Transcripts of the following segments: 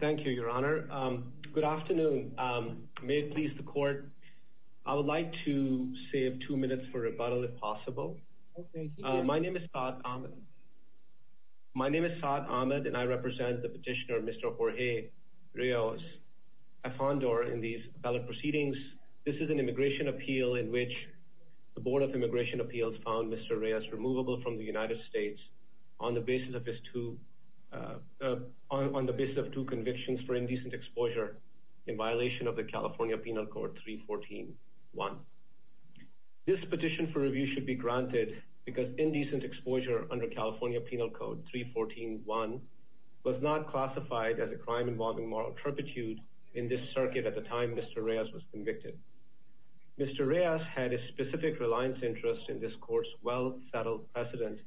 Thank you, Your Honor. Good afternoon. May it please the court, I would like to save two minutes for rebuttal if possible. My name is Saad Ahmed. My name is Saad Ahmed and I represent the petitioner Mr. Jorge Reyes Afanador in these appellate proceedings. This is an immigration appeal in which the Board of Immigration Appeals found Mr. Reyes removable from the United States on the basis of two convictions for indecent exposure in violation of the California Penal Code 314.1. This petition for review should be granted because indecent exposure under California Penal Code 314.1 was not classified as a crime involving moral turpitude in this circuit at the time Mr. Reyes was convicted. Mr. Reyes had a specific reliance in this court's well-settled precedent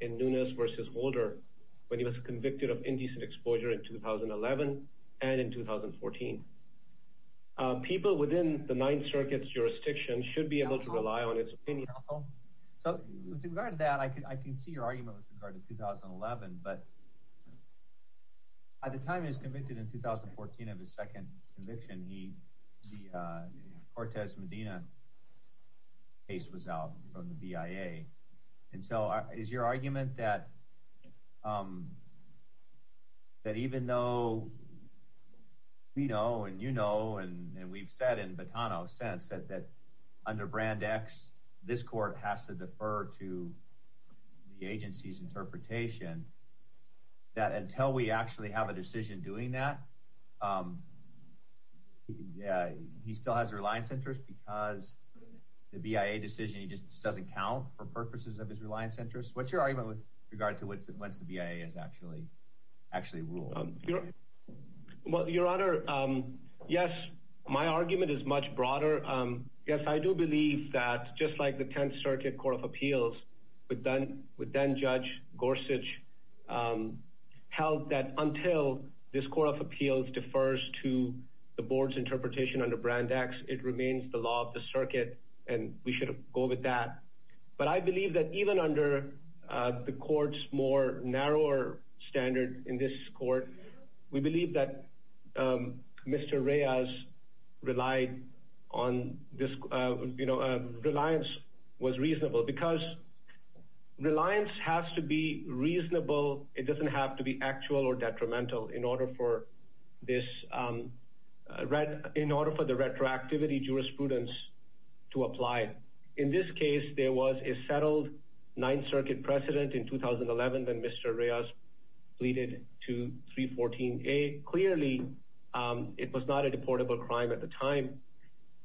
in Nunes v. Holder when he was convicted of indecent exposure in 2011 and in 2014. People within the Ninth Circuit's jurisdiction should be able to rely on its opinion. So with regard to that, I can see your argument with regard to 2011 but at the time he was convicted in 2014 of his second conviction, the Cortez Medina case was out from the BIA and so is your argument that even though we know and you know and we've said in Botano's sense that under Brand X this court has to defer to the agency's interpretation that until we actually have a decision doing that, he still has a reliance interest because the BIA decision just doesn't count for purposes of his reliance interest? What's your argument with regard to what's the BIA has actually ruled? Well, your honor, yes, my argument is much broader. Yes, I do believe that just like the Tenth Circuit Court of Appeals would then judge Gorsuch held that until this Court of Appeals defers to the board's interpretation under Brand X, it remains the law of the circuit and we should go with that. But I believe that even under the court's more narrower standard in this court, we believe that Mr. Reyes relied on this, you know, reliance was reasonable because reliance has to be reasonable. It doesn't have to be reasonable. It doesn't have to be reasonable. It doesn't have to be reasonable. In this case, there was a settled Ninth Circuit precedent in 2011 when Mr. Reyes pleaded to 314A. Clearly, it was not a deportable crime at the time.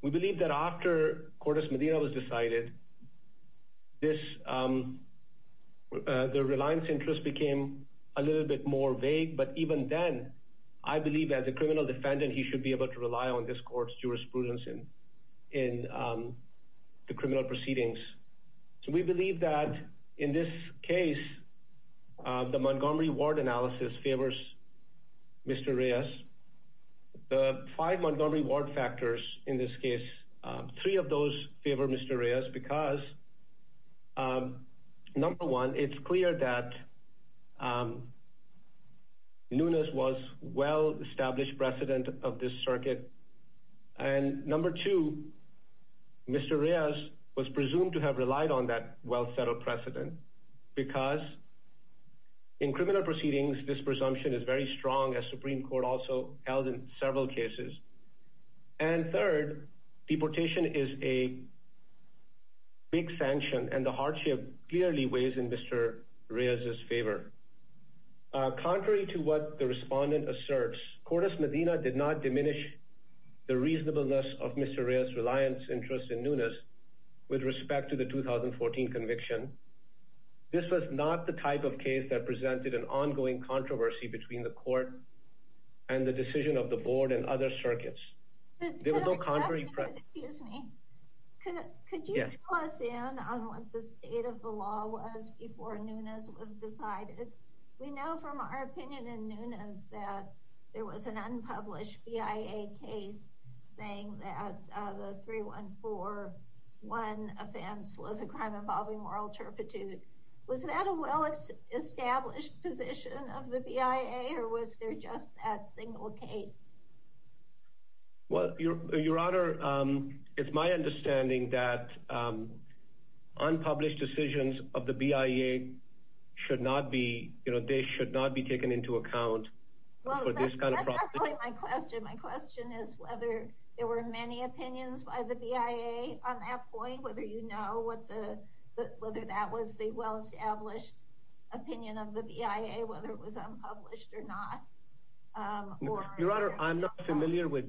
We believe that after Cordes Medina was decided, this, the reliance interest became a little bit more vague. But even then, I believe as a criminal defendant, he should be able to rely on this court's jurisprudence in the criminal proceedings. So we believe that in this case, the Montgomery Ward analysis favors Mr. Reyes. The five Montgomery Ward factors in this case, three of those favor Mr. Reyes because of number one, it's clear that Nunes was well-established precedent of this circuit. And number two, Mr. Reyes was presumed to have relied on that well-settled precedent because in criminal proceedings, this presumption is very strong as Supreme Court also held in several cases. And third, deportation is a big sanction and the hardship clearly weighs in Mr. Reyes' favor. Contrary to what the respondent asserts, Cordes Medina did not diminish the reasonableness of Mr. Reyes' reliance interest in Nunes with respect to the 2014 conviction. This was not the type of case that presented an ongoing controversy between the court and the decision of the board and other circuits. There was no contrary. Excuse me. Could you fill us in on what the state of the law was before Nunes was decided? We know from our opinion in Nunes that there was an unpublished BIA case saying that the 3141 offense was a crime involving moral turpitude. Was that a well-established position of the BIA or was there just that single case? Well, Your Honor, it's my understanding that unpublished decisions of the BIA should not be, you know, they should not be taken into account. Well, that's not really my question. My question is whether there were many opinions by the BIA on that point, whether you know what the, whether that was the well-established opinion of the BIA, whether it was unpublished or not. Your Honor, I'm not familiar with,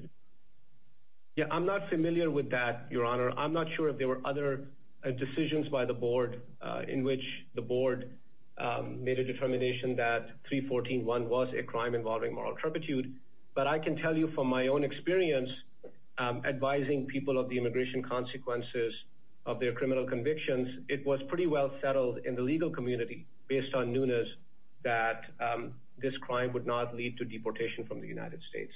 yeah, I'm not familiar with that, Your Honor. I'm not sure if there were other decisions by the board in which the board made a determination that 3141 was a crime involving moral turpitude, but I can tell you from my own experience advising people of the immigration consequences of their criminal convictions, it was pretty well settled in the from the United States.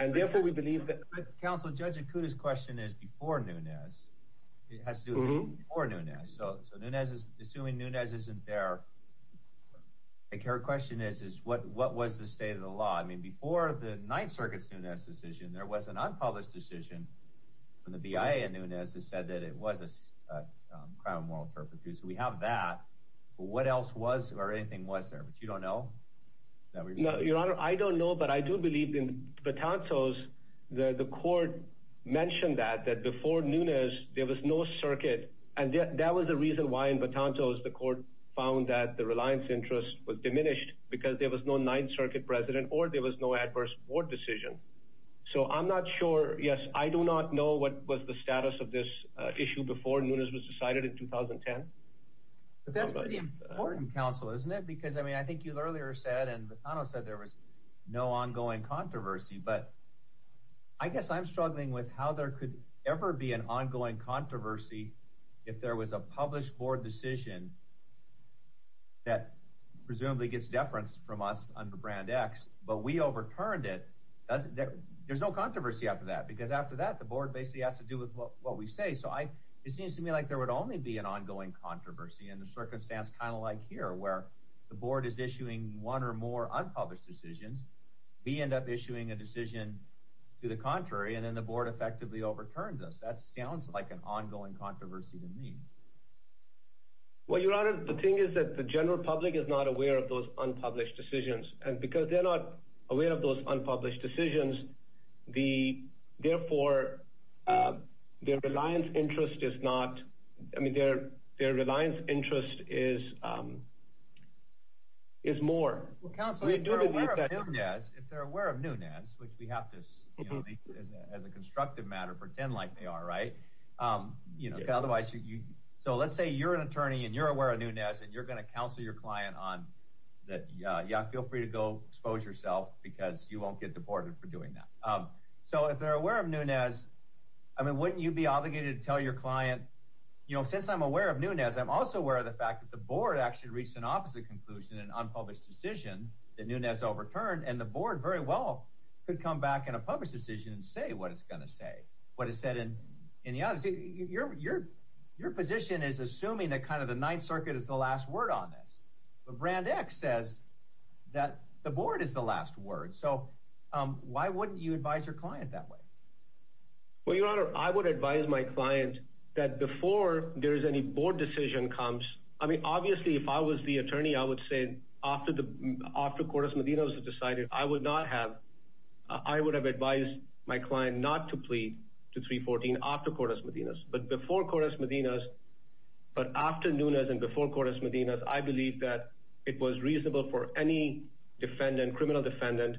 And therefore, we believe that... Counsel, Judge Ikuda's question is before Nunez. It has to do with before Nunez. So Nunez is, assuming Nunez isn't there, I think her question is, is what was the state of the law? I mean, before the Ninth Circuit's Nunez decision, there was an unpublished decision from the BIA in Nunez that said that it was a crime of moral turpitude. So we have that, but what else was or anything was there? But you don't know? Your Honor, I don't know, but I do believe in Batantos, the court mentioned that before Nunez, there was no circuit. And that was the reason why in Batantos the court found that the reliance interest was diminished because there was no Ninth Circuit president or there was no adverse board decision. So I'm not sure. Yes, I do not know what was the status of this issue before Nunez was decided in 2010. That's pretty important, Counsel, isn't it? Because, I mean, I think you earlier said and Batantos said there was no ongoing controversy, but I guess I'm struggling with how there could ever be an ongoing controversy if there was a published board decision that presumably gets deference from us under Brand X, but we overturned it. There's no controversy after that, because after that, the board basically has to do with what we say. So it seems to me like there would only be an ongoing controversy in a circumstance kind of like here, where the board is issuing one or more unpublished decisions, we end up issuing a decision to the contrary, and then the board effectively overturns us. That sounds like an ongoing controversy to me. Well, Your Honor, the thing is that the general public is not aware of those unpublished decisions, and because they're not aware of those unpublished decisions, the, therefore, their reliance interest is not, I mean, their reliance interest is more. Well, Counsel, if they're aware of Nunez, which we have to, as a constructive matter, pretend like they are, right? So let's say you're an attorney, and you're aware of Nunez, and you're going to counsel your client on that, yeah, feel free to go expose yourself, because you won't get deported for doing that. So if they're aware of Nunez, I mean, wouldn't you be obligated to tell your client, you know, since I'm aware of Nunez, I'm also aware of the fact that the board actually reached an opposite conclusion, an unpublished decision that Nunez overturned, and the board very well could come back in a published decision and say what it's going to say, what it said in the audits. Your position is assuming that kind of the Ninth Word. So why wouldn't you advise your client that way? Well, Your Honor, I would advise my client that before there is any board decision comes, I mean, obviously, if I was the attorney, I would say after the, after Cortez-Medina was decided, I would not have, I would have advised my client not to plead to 314 after Cortez-Medina, but before Cortez-Medina, but after Nunez and before defendant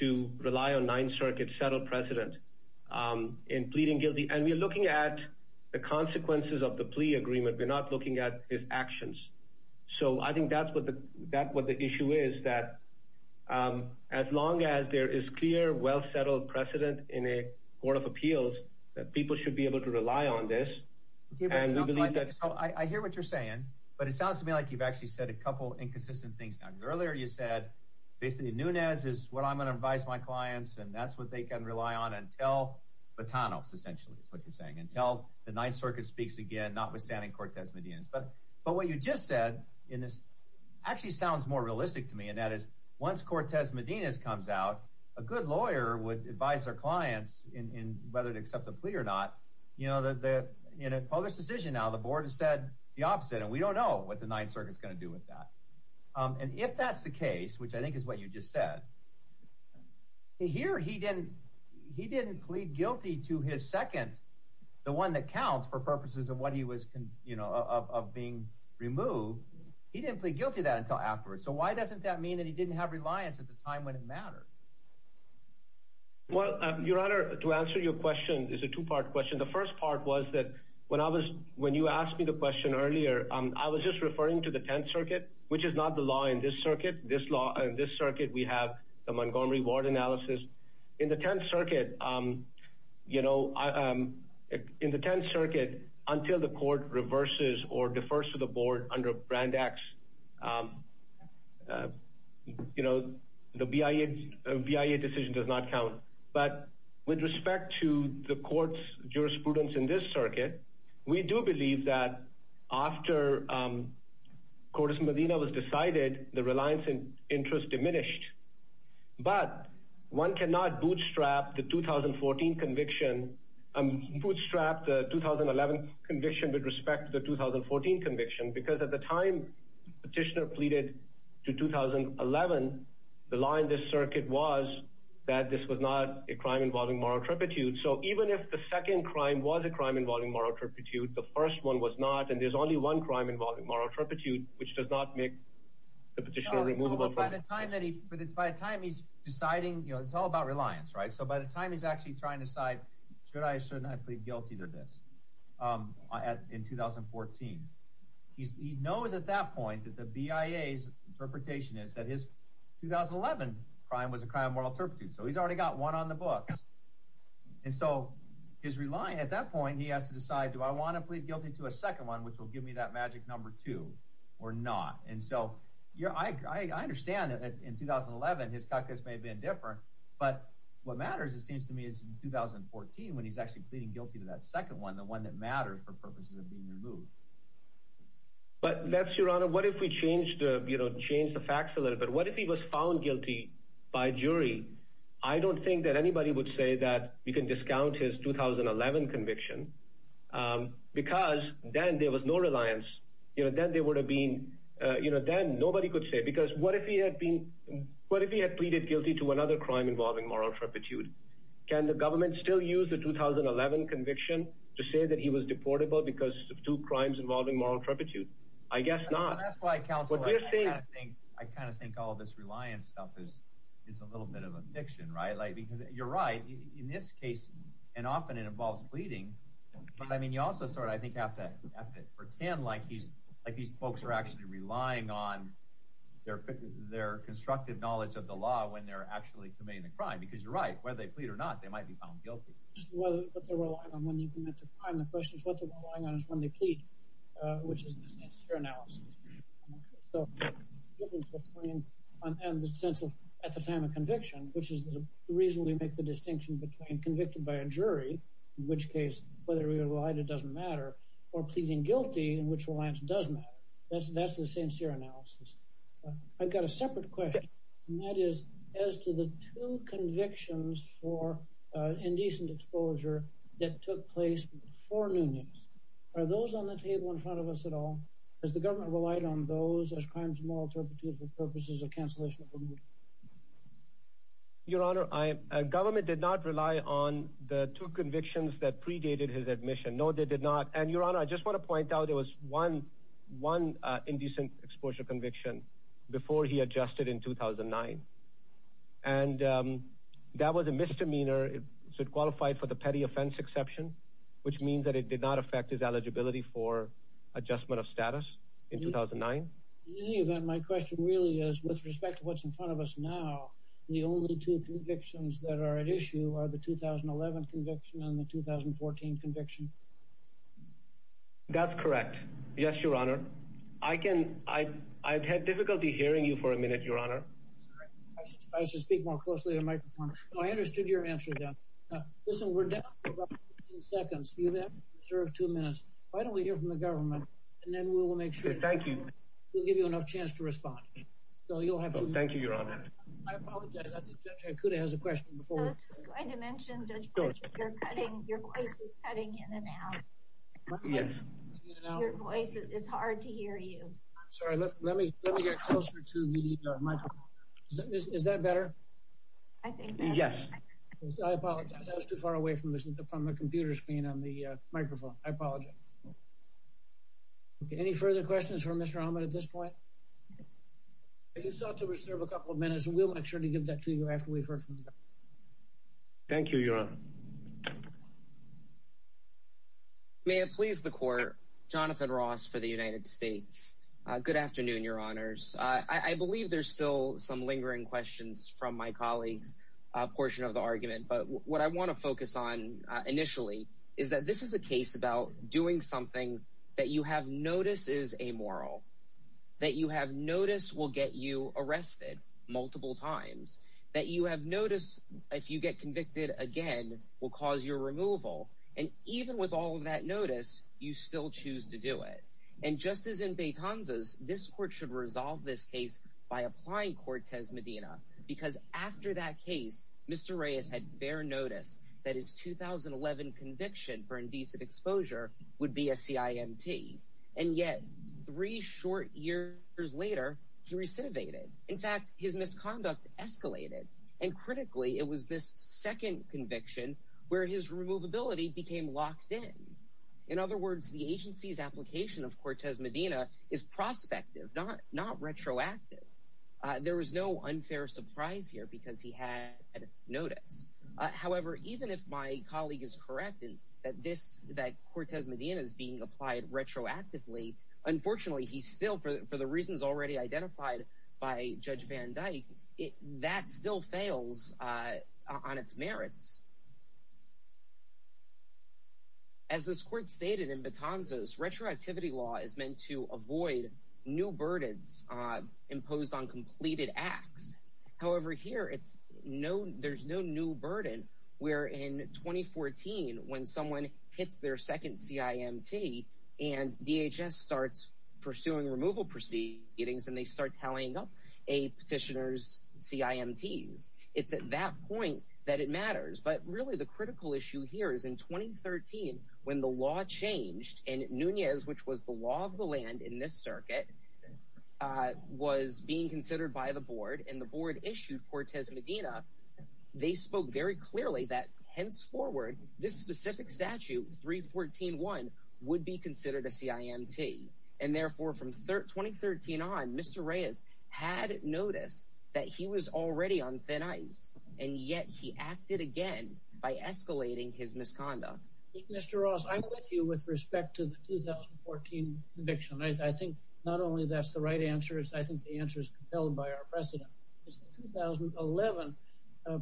to rely on Ninth Circuit settled precedent in pleading guilty. And we're looking at the consequences of the plea agreement. We're not looking at his actions. So I think that's what the, that what the issue is, that as long as there is clear, well settled precedent in a Court of Appeals, that people should be able to rely on this. I hear what you're saying, but it sounds to me like you've actually said a couple inconsistent things. Earlier you said basically Nunez is what I'm going to advise my clients. And that's what they can rely on until Botano, essentially, is what you're saying until the Ninth Circuit speaks again, notwithstanding Cortez-Medina. But, but what you just said in this actually sounds more realistic to me. And that is once Cortez-Medina comes out, a good lawyer would advise their clients in, in whether to accept the plea or not, you know, the, the, in a public decision. Now the board has said the opposite, and we don't know what the Ninth Circuit is going to do with that. And if that's the case, which I think is what you just said, here he didn't, he didn't plead guilty to his second, the one that counts for purposes of what he was, you know, of, of being removed. He didn't plead guilty to that until afterwards. So why doesn't that mean that he didn't have reliance at the time when it mattered? Well, Your Honor, to answer your question is a two-part question. The first part was that when I was, when you asked me the question earlier, I was just referring to the Tenth Circuit, which is not the law in this circuit. This law, in this circuit, we have the Montgomery Ward analysis. In the Tenth Circuit, you know, in the Tenth Circuit, until the court reverses or defers to the board under Brand X, you know, the BIA decision does not count. But with respect to the court's jurisprudence in this circuit, we do believe that after Cordes Medina was decided, the reliance and interest diminished. But one cannot bootstrap the 2014 conviction, bootstrap the 2011 conviction with respect to the 2014 conviction, because at the time the petitioner pleaded to 2011, the law in this circuit was that this was not a crime involving moral turpitude. So even if the second crime was a crime involving moral turpitude, the first one was not, and there's only one crime involving moral turpitude, which does not make the petitioner removable. By the time that he, by the time he's deciding, you know, it's all about reliance, right? So by the time he's actually trying to decide, should I, shouldn't I plead guilty to this in 2014? He knows at that point that the BIA's interpretation is that his 2011 crime was a crime of moral turpitude. So he's already got one on the books. And so his reliance at that point, he has to decide, do I want to plead guilty to a second one, which will give me that magic number two or not? And so I understand that in 2011, his calculus may have been different, but what matters, it seems to me, is in 2014, when he's actually pleading guilty to that second one, the one that matters for purposes of being removed. But that's your honor. What if we change the, you know, change the facts a little bit? What if he was found guilty by jury? I don't think that anybody would say that you can discount his 2011 conviction, because then there was no reliance. You know, then there would have been, you know, then nobody could say, because what if he had been, what if he had pleaded guilty to another crime involving moral turpitude? Can the government still use the 2011 conviction to say that he was deportable because of two crimes involving moral turpitude? I guess not. That's why, counsel, I kind of think all this reliance stuff is a little bit of a fiction, right? Like, because you're right, in this case, and often it involves pleading, but I mean, you also sort of, I think, have to pretend like he's, like these folks are actually relying on their constructive knowledge of the law when they're actually committing a crime, because you're right, whether they plead or not, they might be found guilty. Just what they're relying on when they commit a crime, the question is what they're relying on is when they plead, which is in this case your analysis. So the difference between, and the sense of at the time of conviction, which is the reason we make the distinction between convicted by a jury, in which case, whether you're right, it doesn't matter, or pleading guilty, in which reliance does matter. That's the sincere analysis. I've got a separate question, and that is, as to the two convictions for indecent exposure that took place before new news, are those on the table in front of us at all? Has the government relied on those as crimes of moral turpitude for purposes of cancellation of removal? Your Honor, government did not rely on the two convictions that predated his admission. No, they did not. And, Your Honor, I just want to point out there was one indecent exposure conviction before he adjusted in 2009, and that was a misdemeanor. It should qualify for the petty offense exception, which means that it did not affect his eligibility for adjustment of status in 2009. In any event, my question really is, with respect to what's in front of us now, the only two convictions that are at issue are the 2011 conviction and the 2014 conviction. That's correct. Yes, Your Honor. I've had difficulty hearing you for a minute, Your Honor. I should speak more closely to the microphone. I understood your answer, then. Listen, we're down to about 15 seconds. You have to reserve two minutes. Why don't we hear from the government, and then we'll make sure. Thank you. We'll give you enough chance to respond. Thank you, Your Honor. I apologize. I think Judge Ikuda has a question. I was just going to mention, Judge Pritchett, your voice is cutting in and out. It's hard to hear you. Sorry. Let me get closer to the microphone. Is that better? I think better. Yes. I apologize. I was too far away from the computer screen on the microphone. I apologize. Okay. Any further questions for Mr. Ahmed at this point? You still have to reserve a couple of minutes, and we'll make sure to give that to you after we've heard from the government. Thank you, Your Honor. May it please the Court, Jonathan Ross for the United States. Good afternoon, Your Honors. I believe there's still some lingering questions from my colleague's portion of the argument, but what I want to focus on initially is that this is a case where you are doing something that you have noticed is amoral, that you have noticed will get you arrested multiple times, that you have noticed if you get convicted again will cause your removal, and even with all of that notice, you still choose to do it. And just as in Betanza's, this Court should resolve this case by applying Cortez Medina, because after that case, Mr. Reyes had fair notice that his 2011 conviction for indecent exposure would be a CIMT. And yet, three short years later, he recidivated. In fact, his misconduct escalated. And critically, it was this second conviction where his removability became locked in. In other words, the agency's application of Cortez Medina is prospective, not retroactive. There was no However, even if my colleague is correct that Cortez Medina is being applied retroactively, unfortunately, he's still, for the reasons already identified by Judge Van Dyke, that still fails on its merits. As this Court stated in Betanza's, retroactivity law is meant to avoid new burdens imposed on where in 2014, when someone hits their second CIMT, and DHS starts pursuing removal proceedings, and they start tallying up a petitioner's CIMTs, it's at that point that it matters. But really, the critical issue here is in 2013, when the law changed, and Nunez, which was the law of the land in this circuit, was being considered by the Board, and the Board issued Cortez Medina, they spoke very clearly that, henceforward, this specific statute, 314.1, would be considered a CIMT. And therefore, from 2013 on, Mr. Reyes had noticed that he was already on thin ice, and yet he acted again by escalating his misconduct. Mr. Ross, I'm with you with respect to the 2014 conviction. I think not only that's the right answer, I think the answer is compelled by our precedent. It's the 2011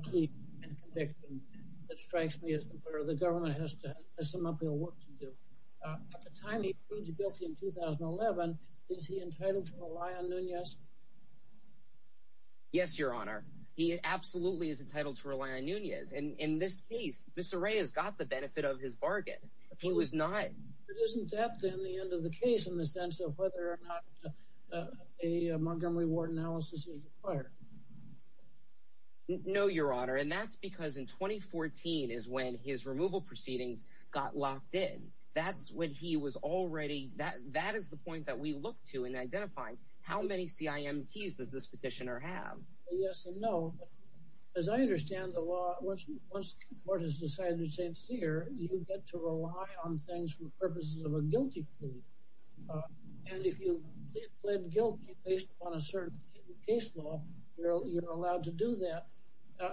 plea and conviction that strikes me as where the government has to have some uphill work to do. At the time he pleads guilty in 2011, is he entitled to rely on Nunez? Yes, Your Honor. He absolutely is entitled to rely on Nunez, and in this case, Mr. Reyes got the benefit of his bargain. He was not... But isn't that, then, the end of the case in the sense of whether or not a Montgomery Ward analysis is required? No, Your Honor, and that's because in 2014 is when his removal proceedings got locked in. That's when he was already... That is the point that we look to in identifying how many CIMTs does this petitioner have? Yes and no. As I understand the law, once the Court has decided it's sincere, you get to rely on things for purposes of a guilty plea. And if you plead guilty based upon a certain case law, you're allowed to do that,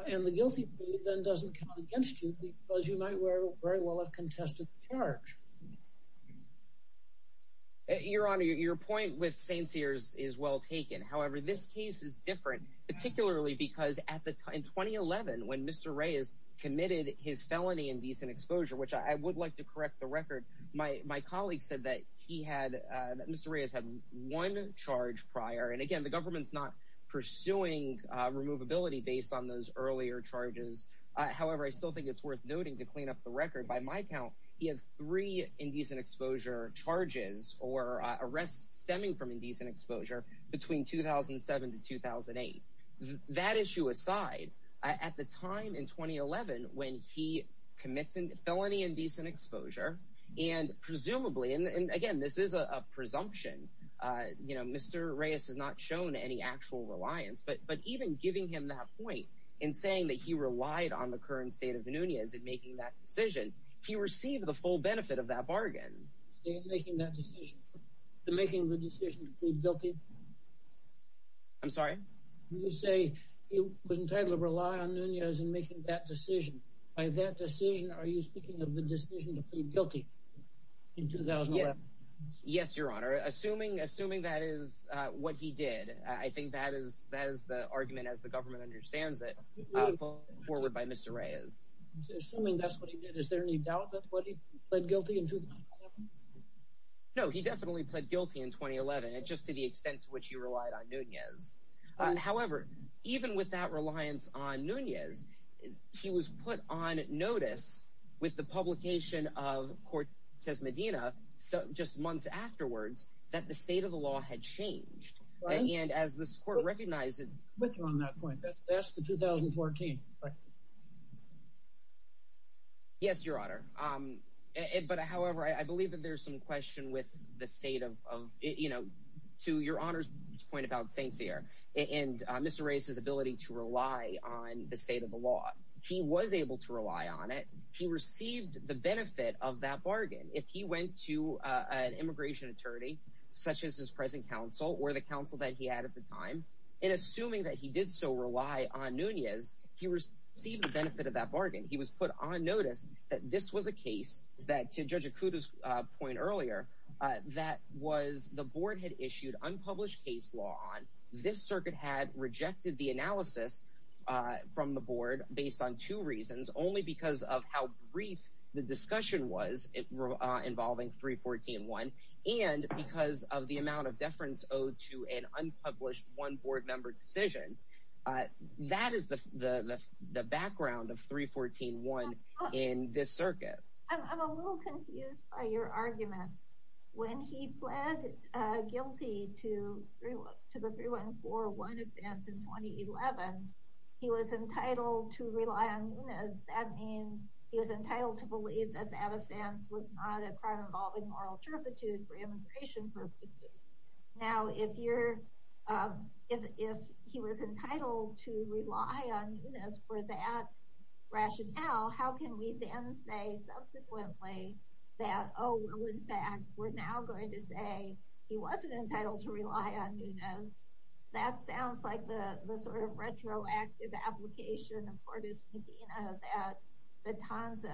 and the guilty plea then doesn't count against you because you might very well have contested the charge. Your Honor, your point with Saint Sears is well taken. However, this case is different, particularly because at the time, in 2011, when Mr. Reyes committed his felony indecent exposure, which I would like to correct the record, my colleague said that he had... That Mr. Reyes had one charge prior, and again, the government's not pursuing removability based on those earlier charges. However, I still think it's worth noting to clean up the record, by my count, he has three indecent exposure charges or arrests stemming from indecent exposure between 2007 to 2008. That issue aside, at the time, in 2011, when he commits a felony indecent exposure, and presumably, and again, this is a presumption, you know, Mr. Reyes has not shown any actual reliance, but even giving him that point and saying that he relied on the current state of Nunez in making that decision, he received the full benefit of that bargain. In making that decision, the making the decision to plead guilty? I'm sorry? You say he was entitled to rely on Nunez in making that decision. By that decision, are you speaking of the decision to plead guilty in 2011? Yes, Your Honor. Assuming that is what he did, I think that is the argument, as the government understands it, forwarded by Mr. Reyes. Assuming that's what he did, is there any doubt that what he did was wrong? No, he definitely pled guilty in 2011, just to the extent to which he relied on Nunez. However, even with that reliance on Nunez, he was put on notice with the publication of Cortez Medina just months afterwards that the state of the law had changed. And as this court recognized it. With you on that point, that's the 2014. Yes, Your Honor. However, I believe that there's some question with the state of, you know, to Your Honor's point about Saint Cyr and Mr. Reyes's ability to rely on the state of the law. He was able to rely on it. He received the benefit of that bargain. If he went to an immigration attorney, such as his present counsel or the counsel that he had at the time, and received the benefit of that bargain, he was put on notice that this was a case that, to Judge Akuto's point earlier, that was the board had issued unpublished case law on. This circuit had rejected the analysis from the board based on two reasons. Only because of how brief the discussion was involving 314.1. And because of the amount of deference owed to an unpublished one board member decision. That is the background of 314.1 in this circuit. I'm a little confused by your argument. When he pled guilty to the 314.1 offense in 2011, he was entitled to rely on Nunez. That means he was entitled to believe that that offense was not a crime involving moral turpitude for immigration purposes. Now, if he was entitled to rely on Nunez for that rationale, how can we then say subsequently that, oh, well, in fact, we're now going to say he wasn't entitled to rely on Nunez. That sounds like the sort of retroactive application of Fortis-Medina that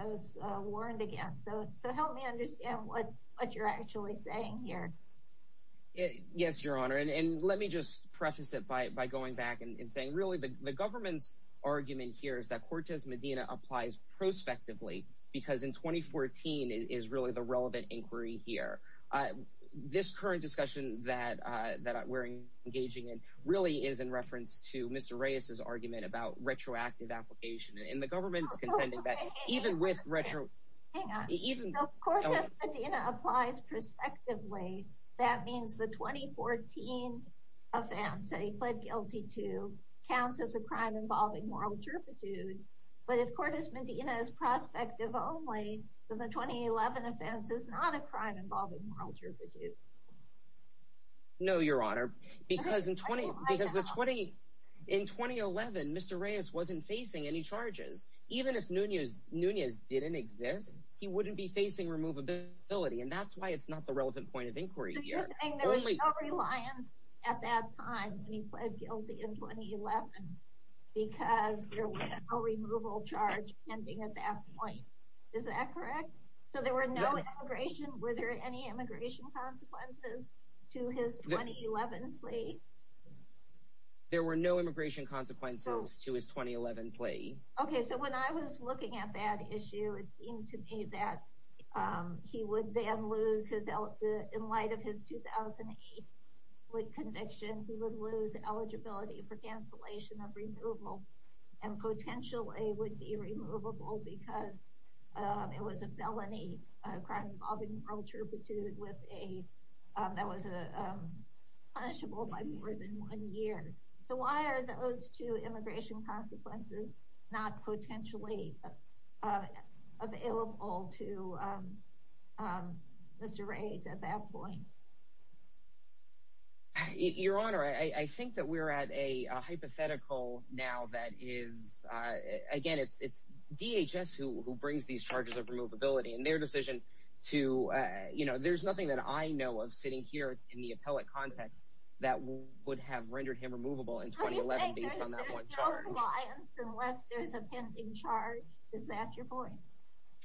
was warned against. So help me understand what you're actually saying here. Yes, Your Honor. And let me just preface it by going back and saying, really, the government's argument here is that Fortis-Medina applies prospectively because in 2014 is really the relevant inquiry here. This current discussion that we're engaging in really is in reference to Mr. Reyes's argument about retroactive application. And the government's contending that even with retro— Hang on. If Fortis-Medina applies prospectively, that means the 2014 offense that he pled guilty to counts as a crime involving moral turpitude. But if Fortis-Medina is prospective only, then the 2011 offense is not a crime involving moral turpitude. No, Your Honor. Because in 2011, Mr. Reyes wasn't facing any charges. Even if Nunez didn't exist, he wouldn't be facing removability. And that's why it's not the relevant point of inquiry here. But you're saying there was no reliance at that time when he pled guilty in 2011 because there was no removal charge pending at that point. Is that correct? So there were no immigration— Were there any immigration consequences to his 2011 plea? There were no immigration consequences to his 2011 plea. Okay. So when I was looking at that issue, it seemed to me that he would then lose his— In light of his 2008 plea conviction, he would lose eligibility for cancellation of removal and potentially would be removable because it was a felony, a crime involving moral turpitude that was punishable by more than one year. So why are those two immigration consequences not potentially available to Mr. Reyes at that point? Your Honor, I think that we're at a hypothetical now that is— Again, it's DHS who brings these charges of removability and their decision to— You know, there's nothing that I know of sitting here in the appellate context that would have rendered him removable in 2011 based on that one charge. Are you saying there's no reliance unless there's a pending charge? Is that your point?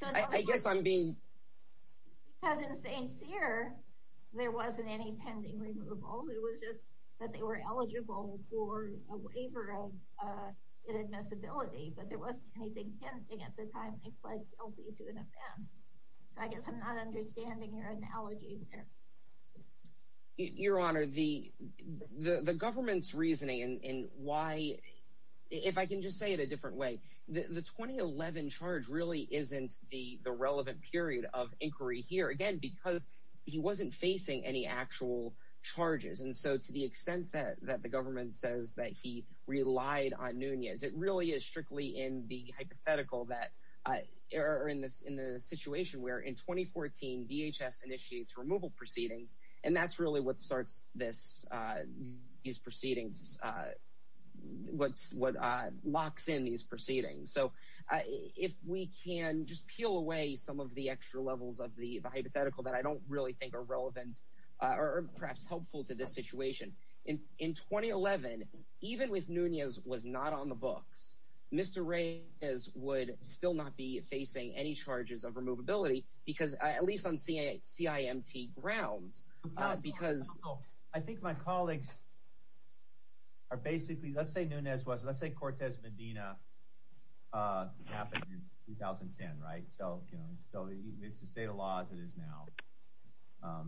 I guess I'm being— Because in St. Cyr, there wasn't any pending removal. It was just that they were eligible for a waiver of inadmissibility, but there wasn't anything pending at the time they pled guilty to an offense. So I guess I'm not understanding your analogy there. Your Honor, the government's reasoning and why— If I can just say it a different way, the 2011 charge really isn't the relevant period of inquiry here, again, because he wasn't facing any actual charges. And so to the extent that the government says that he relied on Nunez, it really is strictly in the hypothetical that— Or in the situation where in 2014, DHS initiates removal proceedings, and that's really what starts these proceedings, what locks in these proceedings. So if we can just peel away some of the extra levels of the hypothetical that I don't really think are relevant or perhaps helpful to this situation. In 2011, even if Nunez was not on the books, Mr. Reyes would still not be facing any charges of removability, at least on CIMT grounds. I think my colleagues are basically— Let's say Nunez was. Let's say Cortez Medina happened in 2010, right? So it's the state of law as it is now.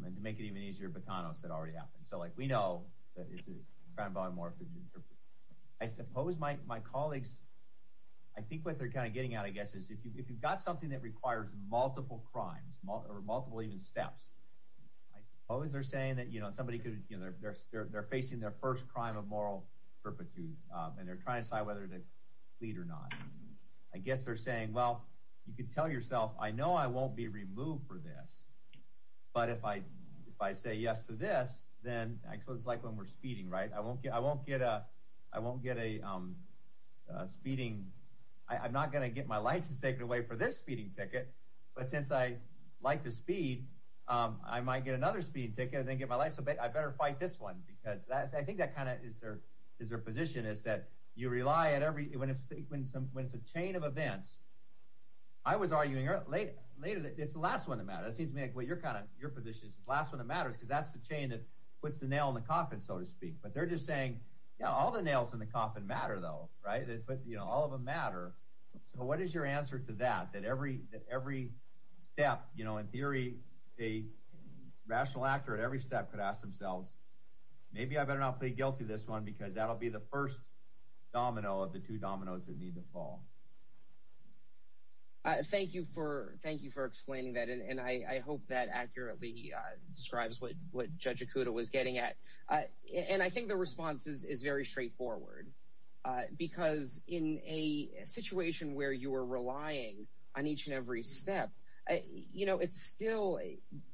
And to make it even easier, Botanos had already happened. So we know that it's a crown bond morphing. I suppose my colleagues— I think what they're kind of getting at, I guess, if you've got something that requires multiple crimes or multiple even steps, I suppose they're saying that somebody could— They're facing their first crime of moral perpetuity, and they're trying to decide whether to plead or not. I guess they're saying, well, you could tell yourself, I know I won't be removed for this, but if I say yes to this, then I suppose it's like when we're speeding, right? I won't get a speeding— I'm not going to get my license taken away for this speeding ticket, but since I like to speed, I might get another speeding ticket and then get my license. I'd better fight this one, because I think that kind of is their position, is that you rely on every— When it's a chain of events, I was arguing later that it's the last one that matters. It seems to me like, well, your position is the last one that matters, because that's the chain that puts the nail in the coffin, so to speak. But they're just saying, yeah, all the nails in the coffin matter, though, right? All of them matter. So what is your answer to that, that every step, you know, in theory, a rational actor at every step could ask themselves, maybe I better not plead guilty to this one, because that'll be the first domino of the two dominoes that need to fall? Thank you for explaining that, and I hope that accurately describes what Judge Okuda was getting at. And I think the response is very straightforward, because in a situation where you are relying on each and every step, you know, it's still—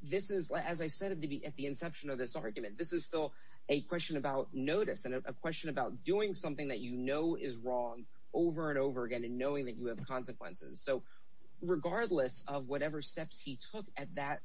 This is, as I said at the inception of this argument, this is still a question about notice and a question about doing something that you know is wrong over and over again and knowing that you have consequences. So regardless of whatever steps he took at that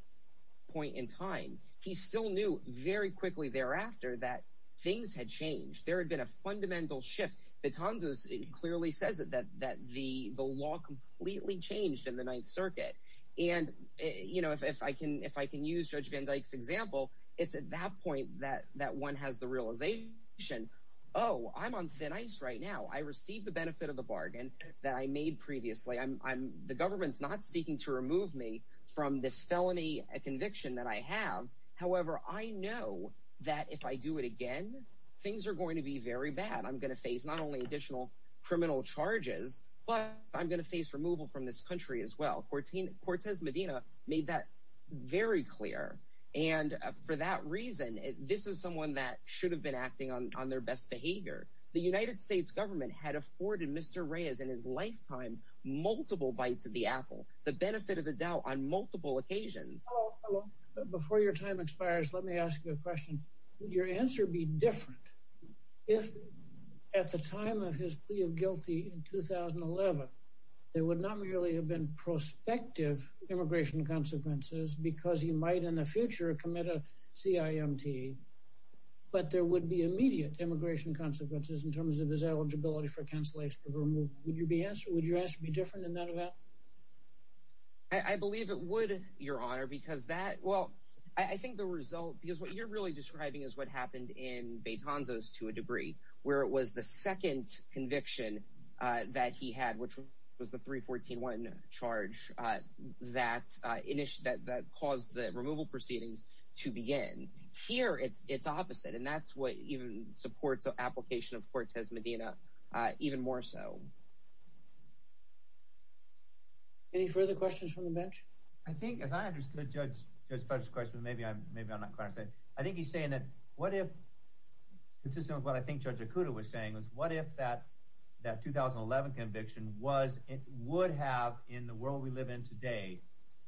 point in time, he still knew very quickly thereafter that things had changed. There had been a fundamental shift. Betonzos clearly says that the law completely changed in the Ninth Circuit. And, you know, if I can use Judge Van Dyke's example, it's at that point that one has the realization, oh, I'm on thin ice right now. I received the benefit of the bargain that I made previously. The government's not seeking to remove me from this felony conviction that I have. However, I know that if I do it again, things are going to be very bad. I'm going to face not only additional criminal charges, but I'm going to face removal from this country as well. Cortez Medina made that very clear. And for that reason, this is someone that should have been acting on their best multiple bites of the apple. The benefit of the doubt on multiple occasions. Before your time expires, let me ask you a question. Would your answer be different if at the time of his plea of guilty in 2011, there would not merely have been prospective immigration consequences because he might in the future commit a CIMT, but there would be immediate immigration consequences in terms of his eligibility for cancellation of removal? Would your answer be different than that? I believe it would, Your Honor, because that, well, I think the result, because what you're really describing is what happened in Betanzos to a degree, where it was the second conviction that he had, which was the 314-1 charge that caused the removal proceedings to begin. Here, it's opposite. And that's what supports the application of Cortez Medina even more so. Any further questions from the bench? I think, as I understood Judge Fudge's question, maybe I'm not quite understanding. I think he's saying that what if, consistent with what I think Judge Okuda was saying, was what if that 2011 conviction would have, in the world we live in today,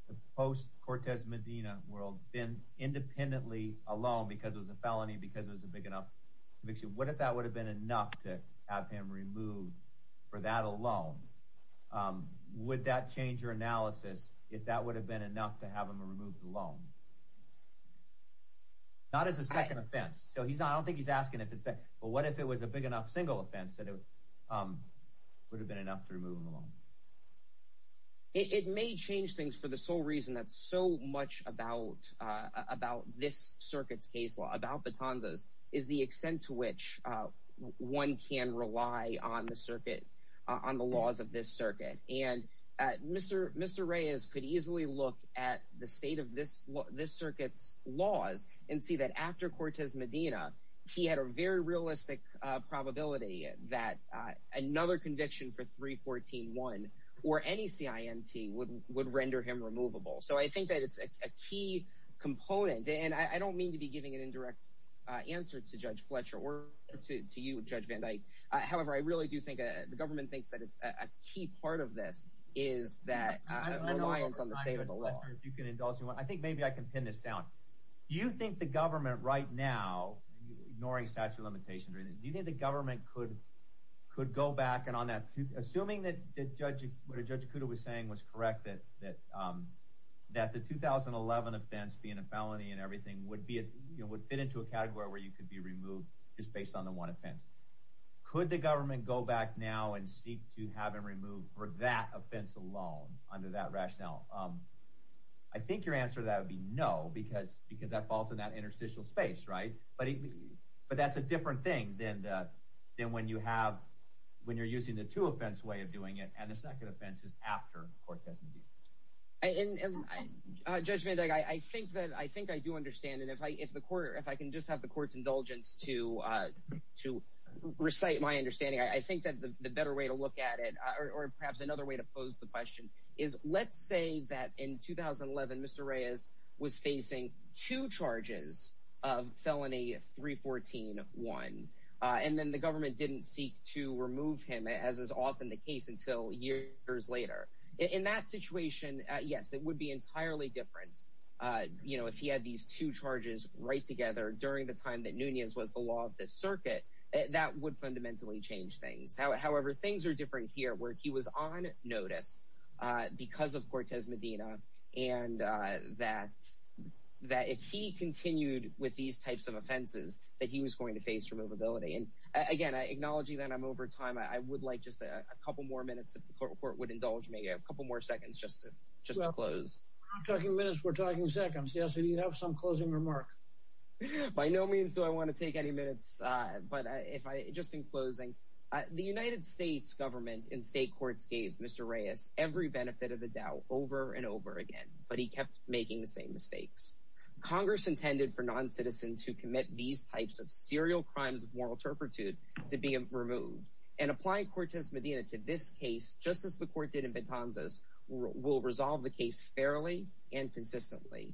the post-Cortez Medina world, been independently alone because it was a felony, because it was a big enough conviction, what if that would have been enough to have him removed for that alone? Would that change your analysis if that would have been enough to have him removed alone? Not as a second offense. So he's not, I don't think he's asking if it's a, well, what if it was a big enough single offense that it would have been enough to remove him alone? It may change things for the sole reason that so much about this circuit's case law, about Batonzas, is the extent to which one can rely on the circuit, on the laws of this circuit. And Mr. Reyes could easily look at the state of this circuit's laws and see that after Cortez Medina, he had a very realistic probability that another conviction for 314-1, or any CIMT, would render him removable. So I think that it's a key component, and I don't mean to be giving an indirect answer to Judge Fletcher or to you, Judge Van Dyke. However, I really do think the government thinks that it's a key part of this is that reliance on the state of the law. I don't know if you can indulge me, but I think maybe I can pin this down. Do you think the government right now, ignoring statute of limitations or anything, do you think the government could go back and on that, assuming that what Judge Kudo was saying was correct, that the 2011 offense being a felony and everything would fit into a category where you could be removed just based on the one offense? Could the government go back now and seek to have him removed for that offense alone, under that rationale? I think your answer to that would be no, because that falls in that interstitial space, right? But that's a different thing than when you have, when you're using the two offense way of doing it, and the second offense is after Cortez Medina. And Judge Van Dyke, I think that, I think I do understand, and if I, if the court, if I can just have the court's indulgence to recite my understanding, I think that the better way to look at it, or perhaps another way to pose the question, is let's say that in 2011, Mr. Reyes was facing two charges of felony 314-1, and then the government didn't seek to remove him, as is often the case, until years later. In that situation, yes, it would be entirely different. You know, if he had these two charges right together during the time that Nunez was the law of the circuit, that would fundamentally change things. However, things are different here, where he was on notice because of Cortez Medina, and that, that if he continued with these types of offenses, that he was going to face removability. And again, I acknowledge that I'm over time, I would like just a couple more minutes if the court would indulge me, a couple more seconds just to, just to close. We're not talking minutes, we're talking seconds. Yes, do you have some closing remark? By no means do I want to take any minutes, but if I, just in closing, the United States government and state courts gave Mr. Reyes every benefit of the doubt over and over again, but he kept making the same mistakes. Congress intended for non-citizens who commit these types of serial crimes of moral to be removed. And applying Cortez Medina to this case, just as the court did in Betanzas, will resolve the case fairly and consistently.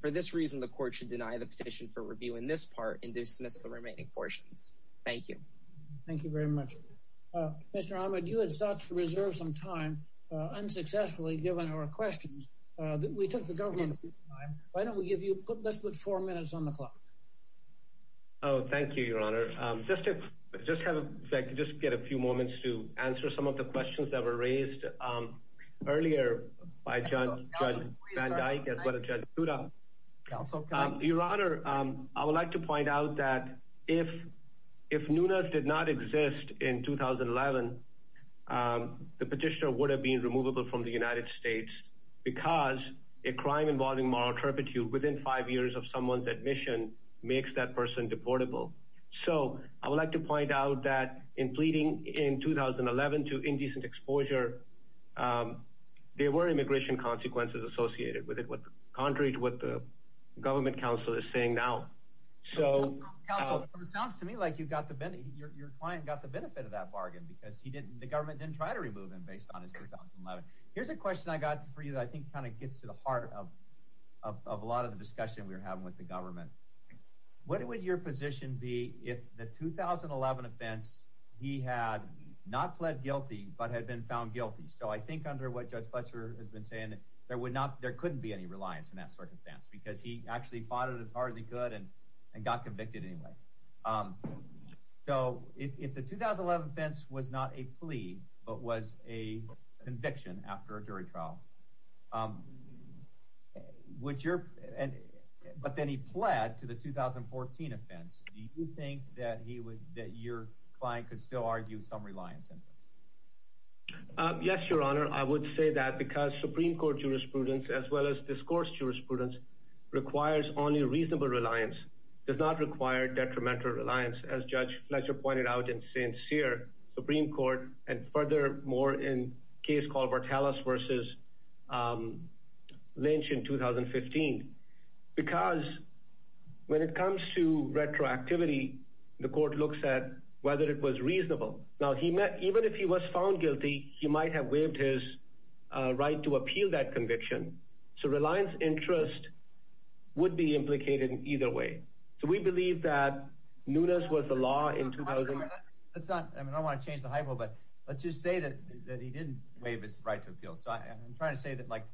For this reason, the court should deny the petition for review in this part and dismiss the remaining portions. Thank you. Thank you very much. Mr. Ahmed, you had sought to reserve some time unsuccessfully, given our questions. We took the government time. Why don't we give you, let's put four minutes on the clock. Oh, thank you, Your Honor. Just if, just have a, if I could just get a few moments to answer some of the questions that were raised earlier by Judge Van Dyke as well as Judge Nuna. Your Honor, I would like to point out that if Nuna did not exist in 2011, the petitioner would have been removable from the United States because a crime involving moral turpitude within five years of someone's admission makes that person deportable. So I would like to point out that in pleading in 2011 to indecent exposure, there were immigration consequences associated with it, contrary to what the government counsel is saying now. Counsel, it sounds to me like you got the benefit, your client got the benefit of that bargain because he didn't, the government didn't try to remove him based on his 2011. Here's a question I got for you that I think kind of gets to the heart of a lot of the discussion we were having with the government. What would your position be if the 2011 offense, he had not pled guilty, but had been found guilty? So I think under what Judge Fletcher has been saying, there would not, there couldn't be any reliance in that circumstance because he actually fought it as hard as he could and got convicted anyway. So if the 2011 offense was not a plea, but was a conviction after a jury trial, would your, but then he pled to the 2014 offense, do you think that he would, that your client could still argue some reliance in it? Yes, your honor, I would say that because Supreme Court jurisprudence as well as discourse jurisprudence requires only reasonable reliance, does not require detrimental reliance. As Judge furthermore, in case called Bartalas versus Lynch in 2015, because when it comes to retroactivity, the court looks at whether it was reasonable. Now he met, even if he was found guilty, he might have waived his right to appeal that conviction. So reliance interest would be implicated in either way. So we believe that Nunes was the law in 2000. Let's not, I mean, let's just say that he didn't waive his right to appeal. So I'm trying to say that like,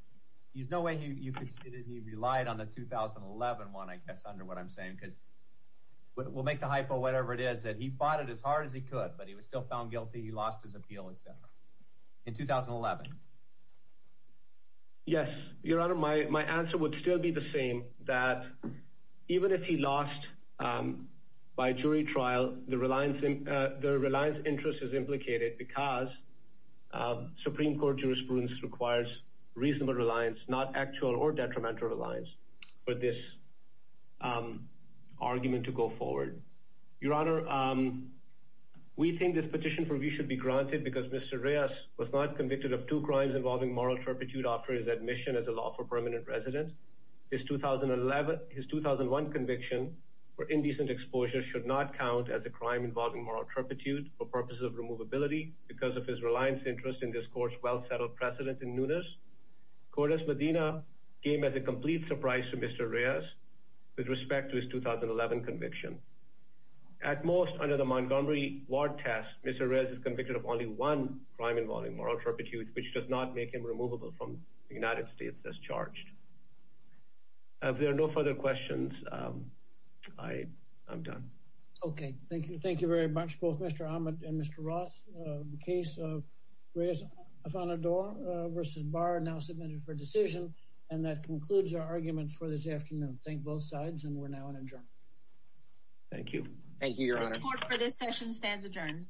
there's no way you could say that he relied on the 2011 one, I guess, under what I'm saying, because we'll make the hypo whatever it is that he fought it as hard as he could, but he was still found guilty. He lost his appeal, et cetera in 2011. Yes, your honor, my answer would still be the same that even if he lost by jury trial, the reliance interest is implicated because Supreme Court jurisprudence requires reasonable reliance, not actual or detrimental reliance for this argument to go forward. Your honor, we think this petition for review should be granted because Mr. Reyes was not convicted of two crimes involving moral turpitude after his admission as a lawful permanent resident. His 2011, his 2001 conviction for indecent exposure should not count as a crime involving moral turpitude for purposes of removability because of his reliance interest in this court's well-settled precedent in Nunes. Cordes Medina came as a complete surprise to Mr. Reyes with respect to his 2011 conviction. At most under the Montgomery Ward test, Mr. Reyes is convicted of only one crime involving moral turpitude, which does not make him removable from the United States as charged. If there are no further questions, I'm done. Okay, thank you. Thank you very much both Mr. Ahmed and Mr. Ross. The case of Reyes-Afanador versus Barr are now submitted for decision and that concludes our argument for this afternoon. Thank both sides and we're now in adjournment. Thank you. Thank you, your honor. The support for this session stands adjourned.